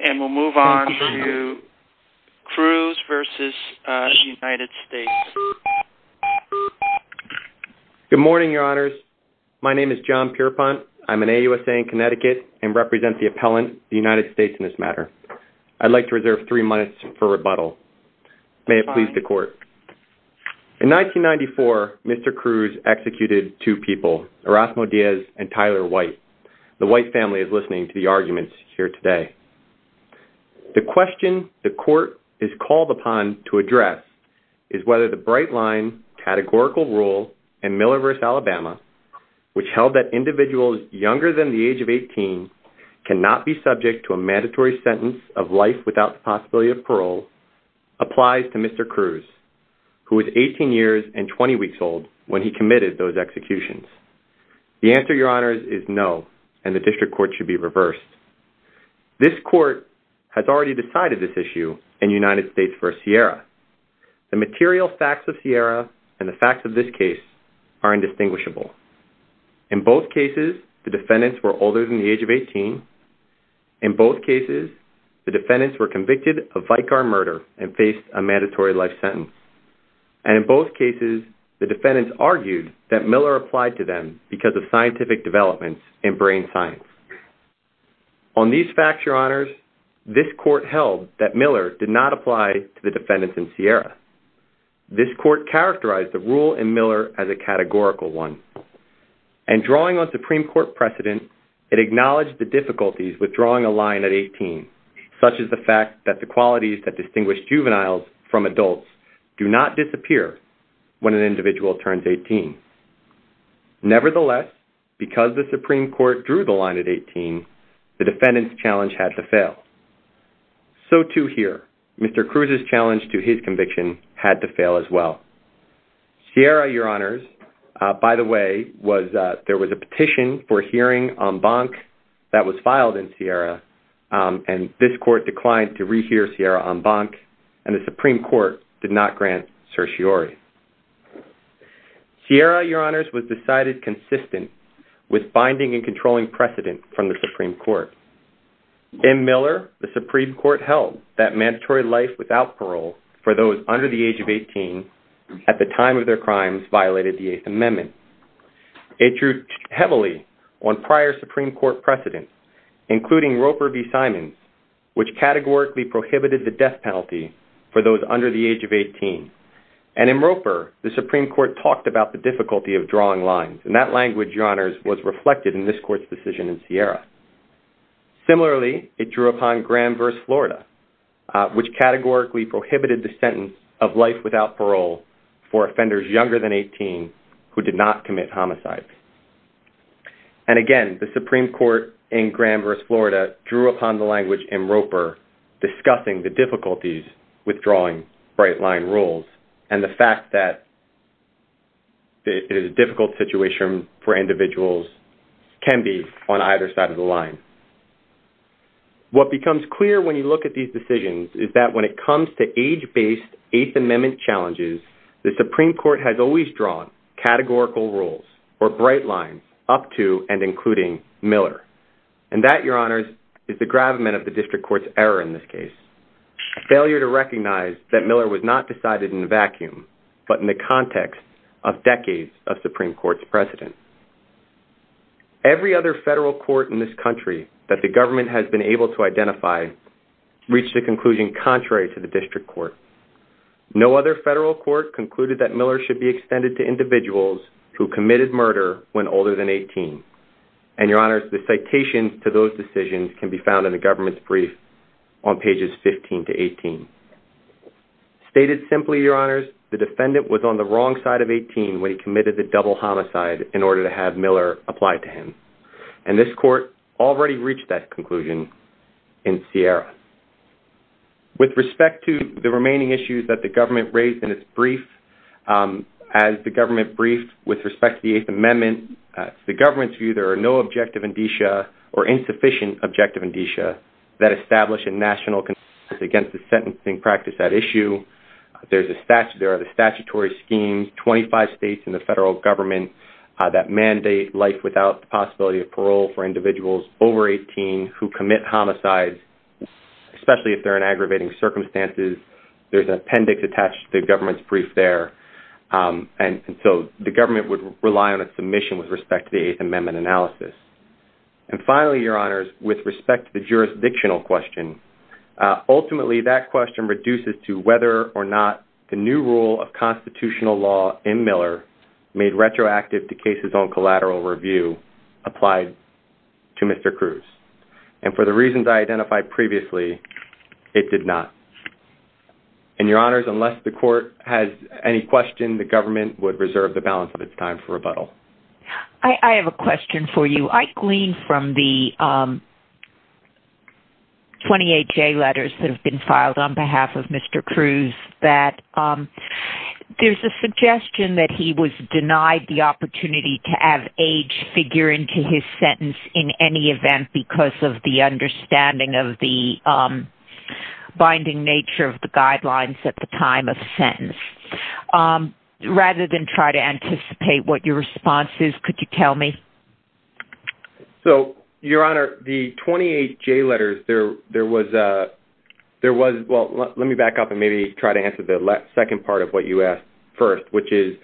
and we'll move on to Cruz versus United States. Good morning your honors my name is John Pierpont I'm an AUSA in Connecticut and represent the appellant the United States in this matter. I'd like to reserve three minutes for rebuttal. May it please the court. In 1994 Mr. Cruz executed two people Erasmo Diaz and Tyler White. The White family is listening to the arguments here today. The question the court is called upon to address is whether the bright line categorical rule in Miller versus Alabama which held that individuals younger than the age of 18 cannot be subject to a mandatory sentence of life without the possibility of parole applies to Mr. Cruz who is 18 years and 20 weeks old when he committed those executions. The answer your honors is no and the district court should be reversed. This court has already decided this issue in United States versus Sierra. The material facts of Sierra and the facts of this case are indistinguishable. In both cases the defendants were older than the age of 18. In both cases the defendants were convicted of Vicar murder and faced a mandatory life sentence and in both cases the brain science. On these facts your honors this court held that Miller did not apply to the defendants in Sierra. This court characterized the rule in Miller as a categorical one and drawing on Supreme Court precedent it acknowledged the difficulties withdrawing a line at 18 such as the fact that the qualities that distinguish juveniles from adults do not disappear when an individual turns 18. Nevertheless because the Supreme Court drew the line at 18 the defendants challenge had to fail. So to hear Mr. Cruz's challenge to his conviction had to fail as well. Sierra your honors by the way was there was a petition for hearing on bonk that was filed in Sierra and this court declined to rehear Sierra on bonk and the Supreme Court did not grant certiorari. Sierra your honors was decided consistent with binding and controlling precedent from the Supreme Court. In Miller the Supreme Court held that mandatory life without parole for those under the age of 18 at the time of their crimes violated the Eighth Amendment. It drew heavily on prior Supreme Court precedent including Roper v. Simons which categorically prohibited the death penalty for those under the age of 18 and in Roper the Supreme Court talked about the difficulty of drawing lines and that language your honors was reflected in this court's decision in Sierra. Similarly it drew upon Graham v. Florida which categorically prohibited the sentence of life without parole for offenders younger than 18 who did not commit homicides. And again the Supreme Court in Graham v. Florida drew upon the language in Roper discussing the difficulties with drawing bright line rules and the fact that it is a difficult situation for individuals can be on either side of the line. What becomes clear when you look at these decisions is that when it comes to age based Eighth Amendment challenges the Supreme Court has always drawn categorical rules or bright lines up to and including Miller and that your honors is the gravamen of the district court's error in this case. Failure to recognize that Miller was not decided in a vacuum but in the context of decades of Supreme Court's precedent. Every other federal court in this country that the government has been able to identify reached a conclusion contrary to the district court. No other federal court concluded that Miller should be extended to individuals who committed murder when older than 18 and your honors the citations to those decisions can be found in the government's brief on pages 15 to 18. Stated simply your honors the defendant was on the wrong side of 18 when he committed the double homicide in order to have Miller applied to him and this court already reached that conclusion in Sierra. With respect to the government brief with respect to the Eighth Amendment the government's view there are no objective indicia or insufficient objective indicia that establish a national consensus against the sentencing practice at issue. There's a statute there are the statutory schemes 25 states in the federal government that mandate life without the possibility of parole for individuals over 18 who commit homicides especially if they're in aggravating circumstances there's an so the government would rely on a submission with respect to the Eighth Amendment analysis. And finally your honors with respect to the jurisdictional question ultimately that question reduces to whether or not the new rule of constitutional law in Miller made retroactive to cases on collateral review applied to Mr. Cruz and for the reasons I identified previously it did not. And your honors unless the court has any question the government would reserve the balance of its time for rebuttal. I have a question for you. I gleaned from the 28 J letters that have been filed on behalf of Mr. Cruz that there's a suggestion that he was denied the opportunity to have age figure into his sentence in any event because of the understanding of the binding nature of the guidelines at the time of sentence. Rather than try to anticipate what your response is could you tell me? So your honor the 28 J letters there there was a there was well let me back up and maybe try to answer the last second part of what you asked first which is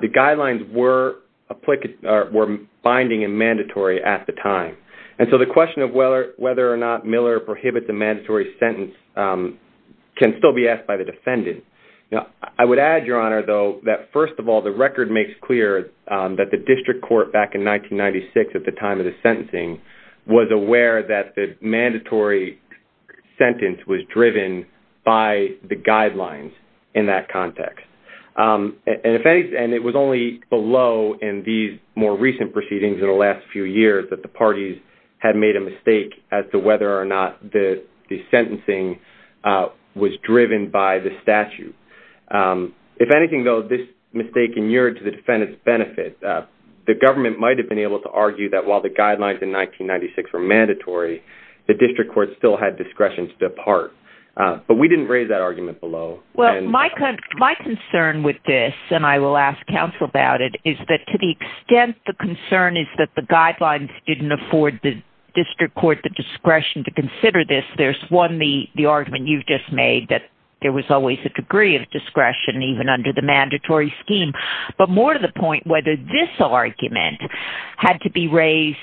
the guidelines were applicable were binding and mandatory at the time and so the question of whether whether or not Miller prohibits a mandatory sentence can still be asked by the defendant. Now I would add your honor though that first of all the record makes clear that the district court back in 1996 at the time of the sentencing was aware that the mandatory sentence was driven by the guidelines in that context. And if any and it was only below in these more recent proceedings in the last few years that the parties had made a mistake as to whether or not the the sentencing was driven by the statute. If anything though this mistake inured to the defendant's benefit the government might have been able to argue that while the guidelines in 1996 were mandatory the district court still had discretion to depart but we didn't raise that argument below. Well my concern with this and I will ask counsel about it is that to the extent the concern is that the guidelines did not afford the district court the discretion to consider this there's one the the argument you've just made that there was always a degree of discretion even under the mandatory scheme but more to the point whether this argument had to be raised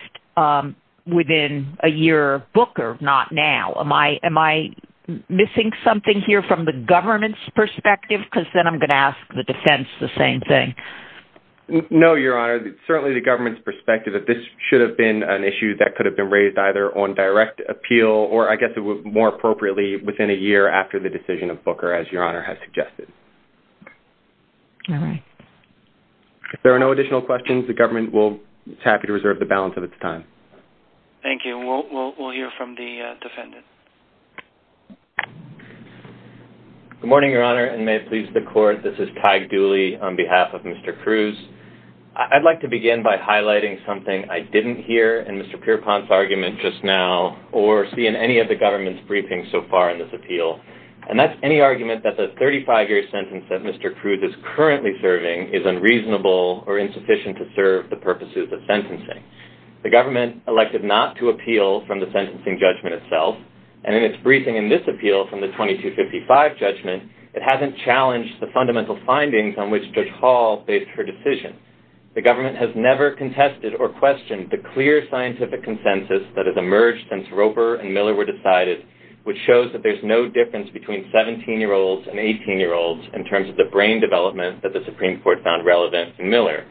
within a year of Booker not now. Am I am I missing something here from the government's perspective because then I'm going to ask the defense the same thing. No your honor certainly the government's perspective that this should have been an issue that could have been raised either on direct appeal or I guess it was more appropriately within a year after the decision of Booker as your honor has suggested. All right. If there are no additional questions the government will be happy to reserve the balance of its time. Thank you we'll hear from the defendant. Good morning your honor and may it please the court this is Ty Dooley on behalf of Mr. Cruz. I'd like to begin by highlighting something I didn't hear in Mr. Pierpont's argument just now or see in any of the government's briefings so far in this appeal and that's any argument that the 35-year sentence that Mr. Cruz is currently serving is unreasonable or insufficient to serve the purposes of sentencing. The government elected not to appeal from the sentencing judgment itself and in its briefing in this appeal from the 2255 judgment it hasn't challenged the fundamental findings on which Judge Hall based her decision. The government has never contested or questioned the clear scientific consensus that has emerged since Roper and Miller were decided which shows that there's no difference between 17 year olds and 18 year olds in terms of the brain development that the Supreme Court found relevant in Miller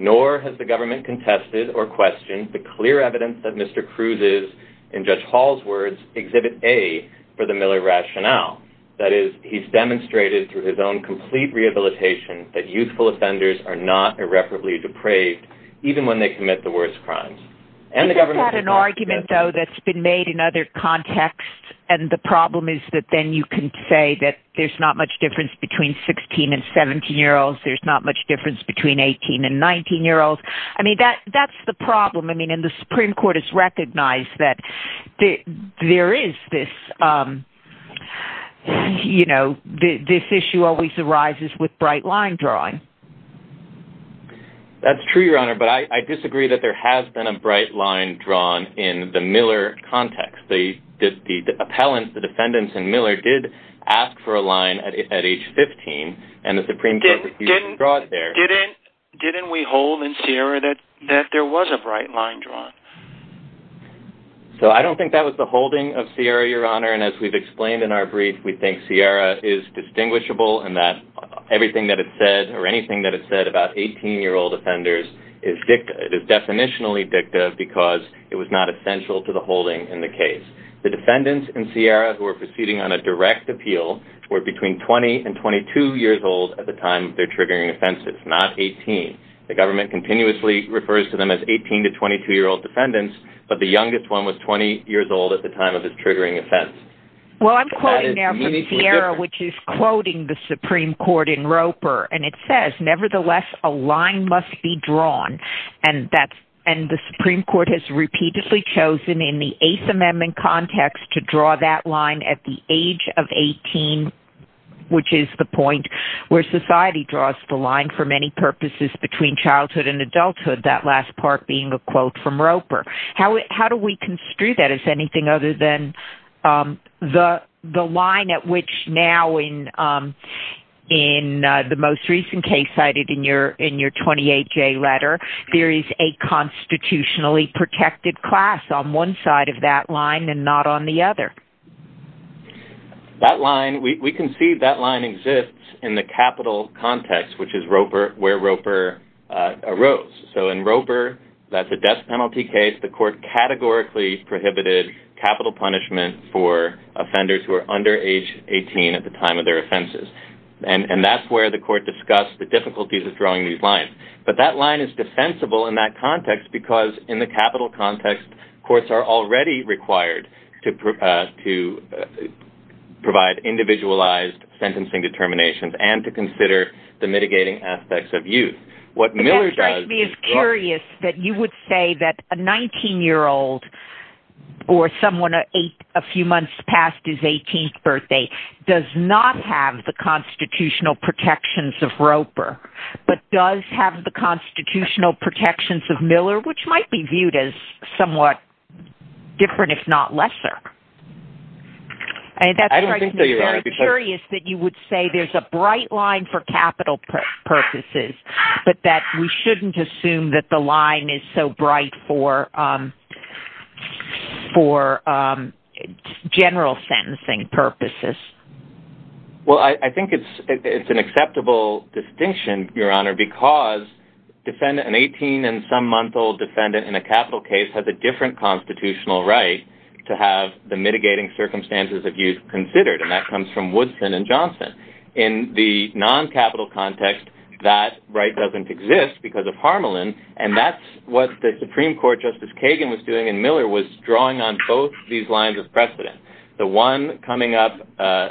nor has the government contested or questioned the clear evidence that Mr. Cruz is in Judge Hall's words exhibit a for the Miller rationale that is he's demonstrated through his own complete rehabilitation that youthful offenders are not irreparably depraved even when they commit the worst crimes and the government had an argument though that's been made in other contexts and the problem is that then you can say that there's not much difference between 16 and 17 year olds there's not much difference between 18 and 19 year olds I mean that that's the problem I mean in the Supreme Court is recognized that there is this you know this issue always arises with bright line drawing. That's true your honor but I disagree that there has been a bright line drawn in the Miller context the the appellant the defendants in Miller did ask for a line at age 15 and the Supreme Court didn't draw it there. Didn't we hold in Sierra that that there was a bright line drawn? So I don't think that was the holding of Sierra your honor and as we've explained in our brief we think everything that it said or anything that it said about 18 year old offenders is dicta it is definitionally dicta because it was not essential to the holding in the case. The defendants in Sierra who are proceeding on a direct appeal were between 20 and 22 years old at the time they're triggering offenses not 18. The government continuously refers to them as 18 to 22 year old defendants but the youngest one was 20 years old at the time of his triggering offense. Well I'm quoting Sierra which is quoting the Supreme Court in Roper and it says nevertheless a line must be drawn and that's and the Supreme Court has repeatedly chosen in the Eighth Amendment context to draw that line at the age of 18 which is the point where society draws the line for many purposes between childhood and adulthood that last part being a quote from Roper. How do we construe that as anything other than the the line at which now in in the most recent case cited in your in your 28 J letter there is a constitutionally protected class on one side of that line and not on the other. That line we can see that line exists in the capital context which is Roper where Roper arose so in Roper that's a death penalty case the court categorically prohibited capital punishment for offenders who are under age 18 at the time of their offenses and and that's where the court discussed the difficulties of drawing these lines but that line is defensible in that context because in the capital context courts are already required to provide to provide individualized sentencing determinations and to consider the mitigating aspects of youth. I'm curious that you would say that a 19 year old or someone at eight a few months past his 18th birthday does not have the constitutional protections of Roper but does have the constitutional protections of Miller which might be viewed as somewhat different if not lesser. I'm curious that you would say there's a bright line for capital purposes but that we shouldn't assume that the line is so bright for for general sentencing purposes. Well I think it's it's an acceptable distinction your honor because defendant an 18 and some month old defendant in a capital case has a different constitutional right to have the mitigating circumstances of youth considered and that comes from in the non-capital context that right doesn't exist because of Harmelin and that's what the Supreme Court Justice Kagan was doing and Miller was drawing on both these lines of precedent. The one coming up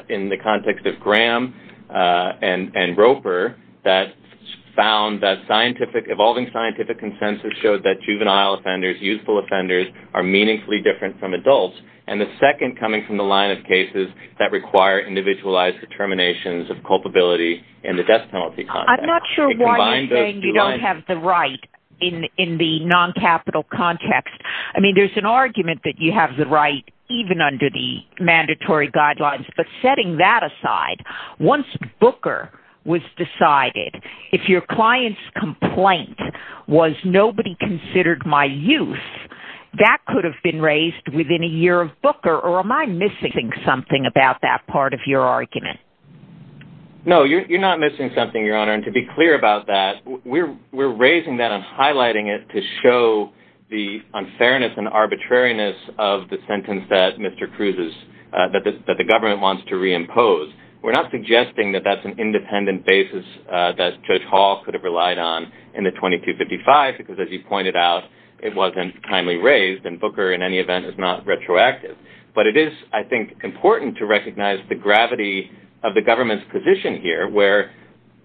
in the context of Graham and and Roper that found that scientific evolving scientific consensus showed that juvenile offenders youthful offenders are meaningfully different from adults and the second coming from the line of cases that require individualized determinations of culpability in the death penalty. I'm not sure why you don't have the right in in the non-capital context I mean there's an argument that you have the right even under the mandatory guidelines but setting that aside once Booker was decided if your client's complaint was nobody considered my youth that could have been raised within a year of Booker or am I missing something about that part of your argument? No you're not missing something your honor and to be clear about that we're we're raising that and highlighting it to show the unfairness and arbitrariness of the sentence that Mr. Cruz's that the government wants to reimpose. We're not suggesting that that's an independent basis that Judge Hall could have relied on in the 2255 because as you pointed out it wasn't kindly raised and Booker in any event is not retroactive but it is I think important to recognize the gravity of the government's position here where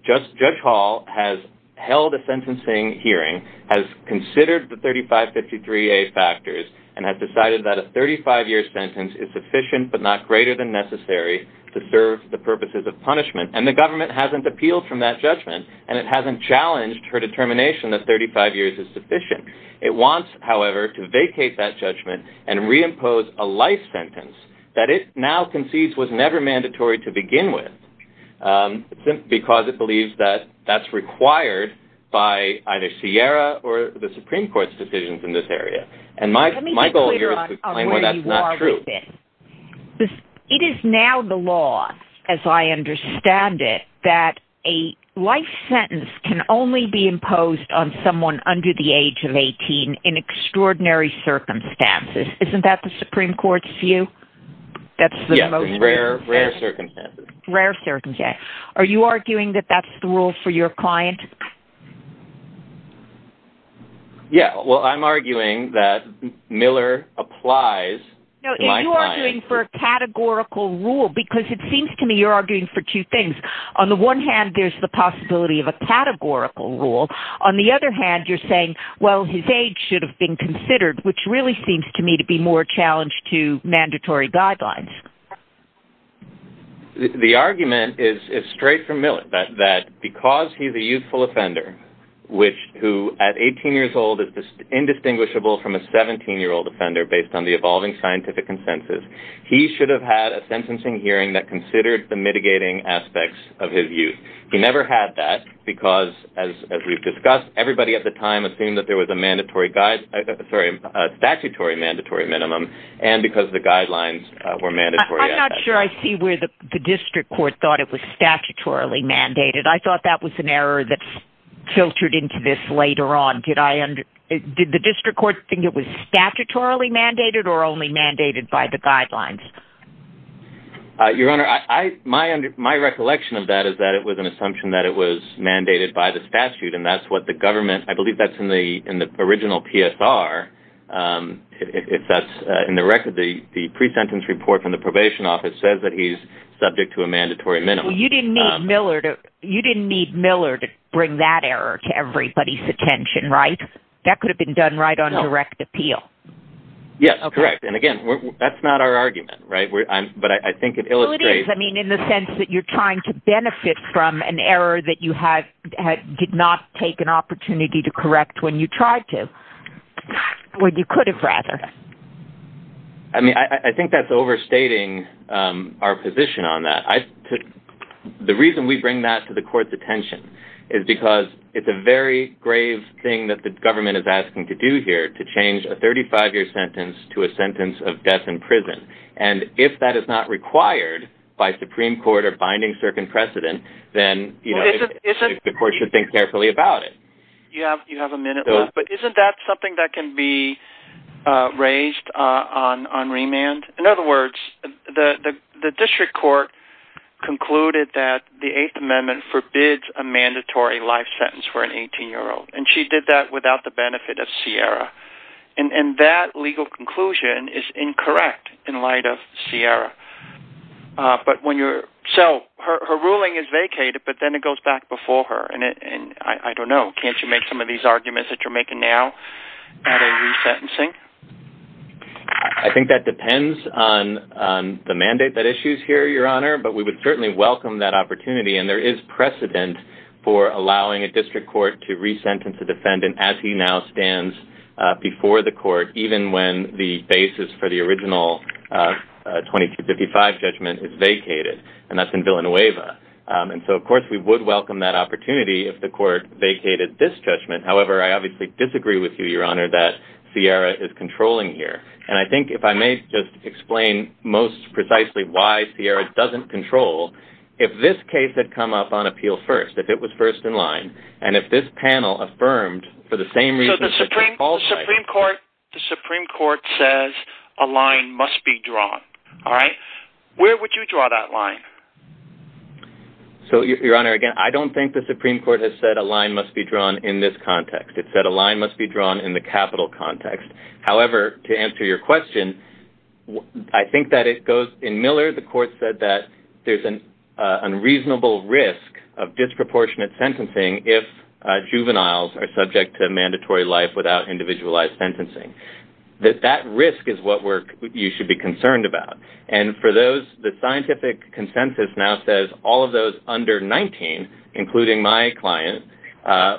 just Judge Hall has held a sentencing hearing has considered the 3553a factors and has decided that a 35 year sentence is sufficient but not greater than necessary to serve the purposes of punishment and the government hasn't appealed from that judgment and it hasn't challenged her determination that 35 years is sufficient. It wants however to vacate that judgment and reimpose a life sentence that it now concedes was never mandatory to begin with because it believes that that's required by either Sierra or the Supreme Court's decisions in this area and my goal here is to explain why that's not true. It is now the law as I understand it that a life sentence can only be imposed on someone under the age of 18 in extraordinary circumstances. Isn't that the Supreme Court's view? That's the rare circumstances. Are you arguing that that's the rule for your client? Yeah well I'm arguing that Miller applies for a categorical rule because it seems to me you're arguing for two things. On the one hand there's the possibility of a categorical rule. On the other hand you're saying well his age should have been considered which really seems to me to be more challenged to mandatory guidelines. The argument is straight from Miller that because he's a youthful offender which who at 18 years old is indistinguishable from a 17 year old offender based on the evolving scientific consensus he should have had a sentencing hearing that considered the mitigating aspects of his youth. He never had that because as we've discussed everybody at the time assumed that there was a mandatory guide sorry a statutory mandatory minimum and because the guidelines were mandatory. I'm not sure I see where the District Court thought it was statutorily mandated. I thought that was an error that's filtered into this later on. Did the District Court think it was statutorily mandated or only mandated by the guidelines? Your Honor my recollection of that is that it was an assumption that it was mandated by the statute and that's what the government I believe that's in the in the original PSR if that's in the record the the pre-sentence report from the probation office says that he's subject to a mandatory minimum. You didn't need Miller to you didn't need Miller to bring that error to everybody's attention right? That could have been done right on direct appeal. Yes correct and again that's not our argument right but I think it illustrates I mean in the sense that you're trying to benefit from an error that you had had did not take an opportunity to correct when you tried to. When you could have rather. I mean I think that's overstating our position on that. The reason we bring that to the court's attention is because it's a very grave thing that the government is asking to do here to change a 35-year sentence to a sentence of death in and if that is not required by Supreme Court or binding circuit precedent then you know the court should think carefully about it. You have you have a minute but isn't that something that can be raised on on remand? In other words the the district court concluded that the Eighth Amendment forbids a mandatory life sentence for an 18 year old and she did that without the benefit of Sierra and that legal conclusion is incorrect in light of Sierra but when you're so her ruling is vacated but then it goes back before her and it and I don't know can't you make some of these arguments that you're making now at a resentencing? I think that depends on the mandate that issues here your honor but we would certainly welcome that opportunity and there is precedent for allowing a before the court even when the basis for the original 2255 judgment is vacated and that's in Villanueva and so of course we would welcome that opportunity if the court vacated this judgment however I obviously disagree with you your honor that Sierra is controlling here and I think if I may just explain most precisely why Sierra doesn't control if this case had come up on appeal first if it was first in line and if this panel affirmed for the same Supreme Court the Supreme Court says a line must be drawn all right where would you draw that line? So your honor again I don't think the Supreme Court has said a line must be drawn in this context it said a line must be drawn in the capital context however to answer your question I think that it goes in Miller the court said that there's an unreasonable risk of disproportionate sentencing if juveniles are subject to mandatory life without individualized sentencing that that risk is what work you should be concerned about and for those the scientific consensus now says all of those under 19 including my client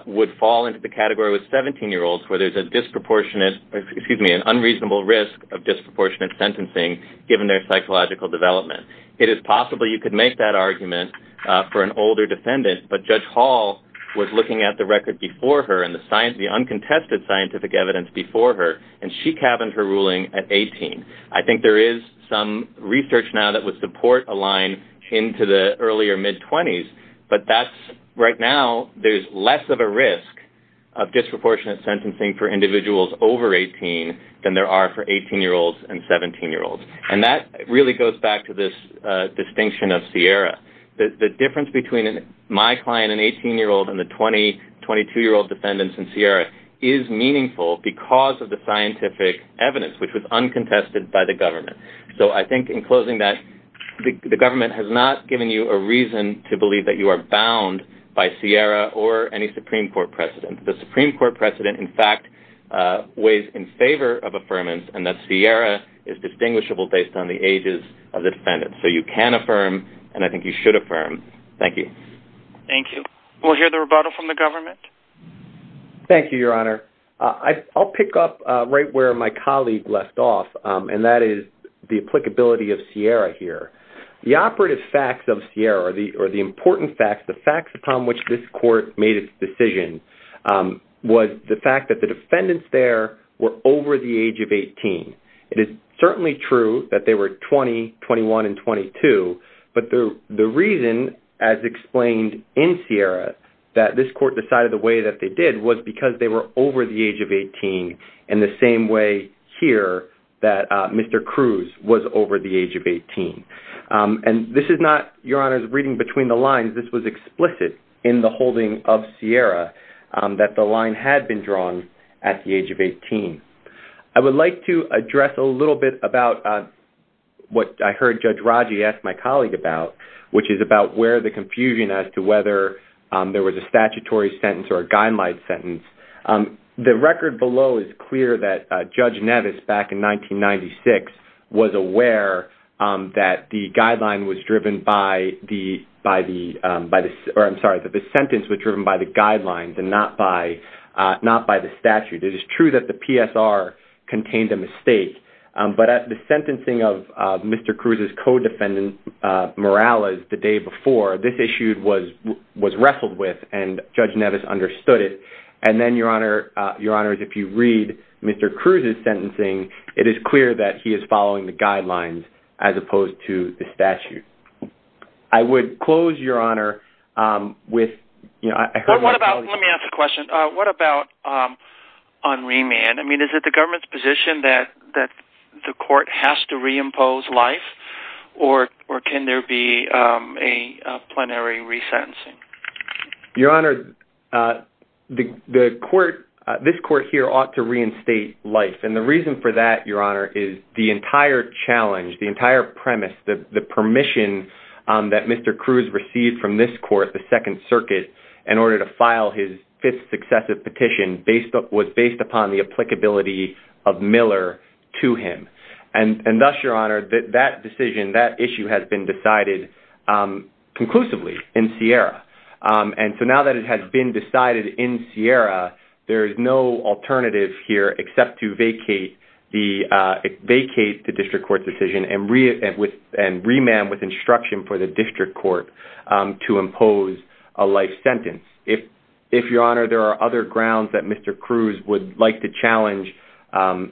would fall into the category with 17 year olds where there's a disproportionate excuse me an unreasonable risk of disproportionate sentencing given their psychological development it is possible you could make that argument for an older defendant but Judge Hall was looking at the record before her and the uncontested scientific evidence before her and she cabins her ruling at 18 I think there is some research now that would support a line into the earlier mid-20s but that's right now there's less of a risk of disproportionate sentencing for individuals over 18 than there are for 18 year olds and 17 year olds and that really goes back to this distinction of Sierra the difference between my client an 18 year old and the 20 22 year old defendants in Sierra is meaningful because of the scientific evidence which was uncontested by the government so I think in closing that the government has not given you a reason to believe that you are bound by Sierra or any Supreme Court precedent the Supreme Court precedent in fact weighs in favor of affirmance and that Sierra is distinguishable based on the ages of the defendant so you can affirm and I think you should affirm thank you thank you we'll hear the rebuttal from the government thank you your honor I'll pick up right where my colleague left off and that is the applicability of Sierra here the operative facts of Sierra or the or the important facts the facts upon which this court made its decision was the fact that the defendants there were over the age of 18 it is certainly true that they were 20 21 and 22 but the the reason as explained in Sierra that this court decided the way that they did was because they were over the age of 18 in the same way here that mr. Cruz was over the age of 18 and this is not your honor's reading between the lines this was explicit in the holding of Sierra that the line had been drawn at the age of 18 I would like to address a little bit about what I heard judge Raji asked my colleague about which is about where the confusion as to whether there was a statutory sentence or a guideline sentence the record below is clear that judge Nevis back in 1996 was aware that the guideline was driven by the by the by the or I'm sorry that the sentence was driven by the guidelines and not by the statute it is true that the PSR contained a mistake but at the sentencing of mr. Cruz's co-defendant Morales the day before this issued was was wrestled with and judge Nevis understood it and then your honor your honor if you read mr. Cruz's sentencing it is clear that he is following the guidelines as opposed to the statute I would close your honor with you know I on remand I mean is it the government's position that that the court has to reimpose life or or can there be a plenary resentencing your honor the the court this court here ought to reinstate life and the reason for that your honor is the entire challenge the entire premise that the permission that mr. Cruz received from this court the Second Circuit in order to file his fifth successive petition based up was based upon the applicability of Miller to him and and thus your honor that that decision that issue has been decided conclusively in Sierra and so now that it has been decided in Sierra there is no alternative here except to vacate the vacate the district court decision and read it with and remand with instruction for the district court to impose a life other grounds that mr. Cruz would like to challenge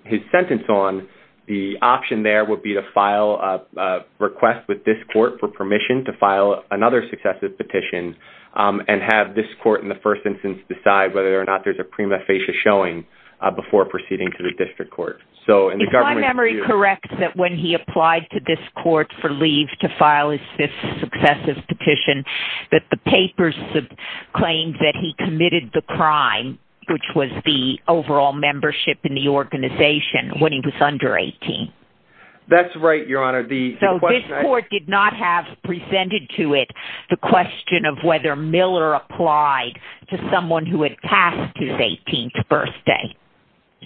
his sentence on the option there would be to file a request with this court for permission to file another successive petition and have this court in the first instance decide whether or not there's a prima facie showing before proceeding to the district court so in the government memory correct that when he applied to this court for leave to file his fifth successive petition that the papers have claimed that he committed the crime which was the overall membership in the organization when he was under 18 that's right your honor the court did not have presented to it the question of whether Miller applied to someone who had passed his 18th birthday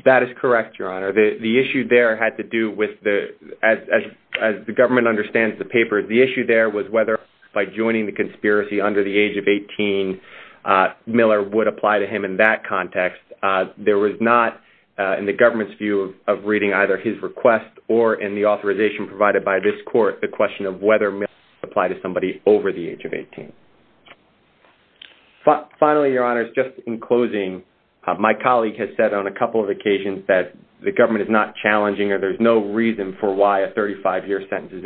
that is correct your honor the the issue there had to do with the as the government understands the paper the issue there was whether by joining the conspiracy under the age of 18 Miller would apply to him in that context there was not in the government's view of reading either his request or in the authorization provided by this court the question of whether may apply to somebody over the age of 18 but finally your honors just in closing my colleague has said on a couple of occasions that the government is not challenging or there's no reason for why a 35-year sentence is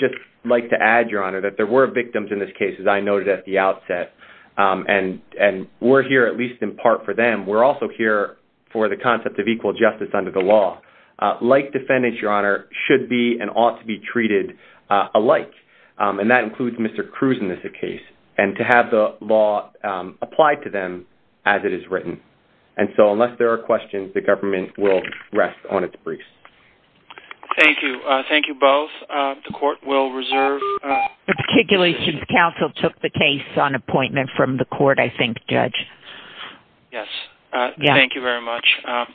just like to add your honor that there were victims in this case as I noted at the outset and and we're here at least in part for them we're also here for the concept of equal justice under the law like defendants your honor should be and ought to be treated alike and that includes mr. Cruz in this a case and to have the law applied to them as it is written and so unless there are questions the government will rest on its briefs thank you thank you both the articulation council took the case on appointment from the court I think judge yes yeah thank you very much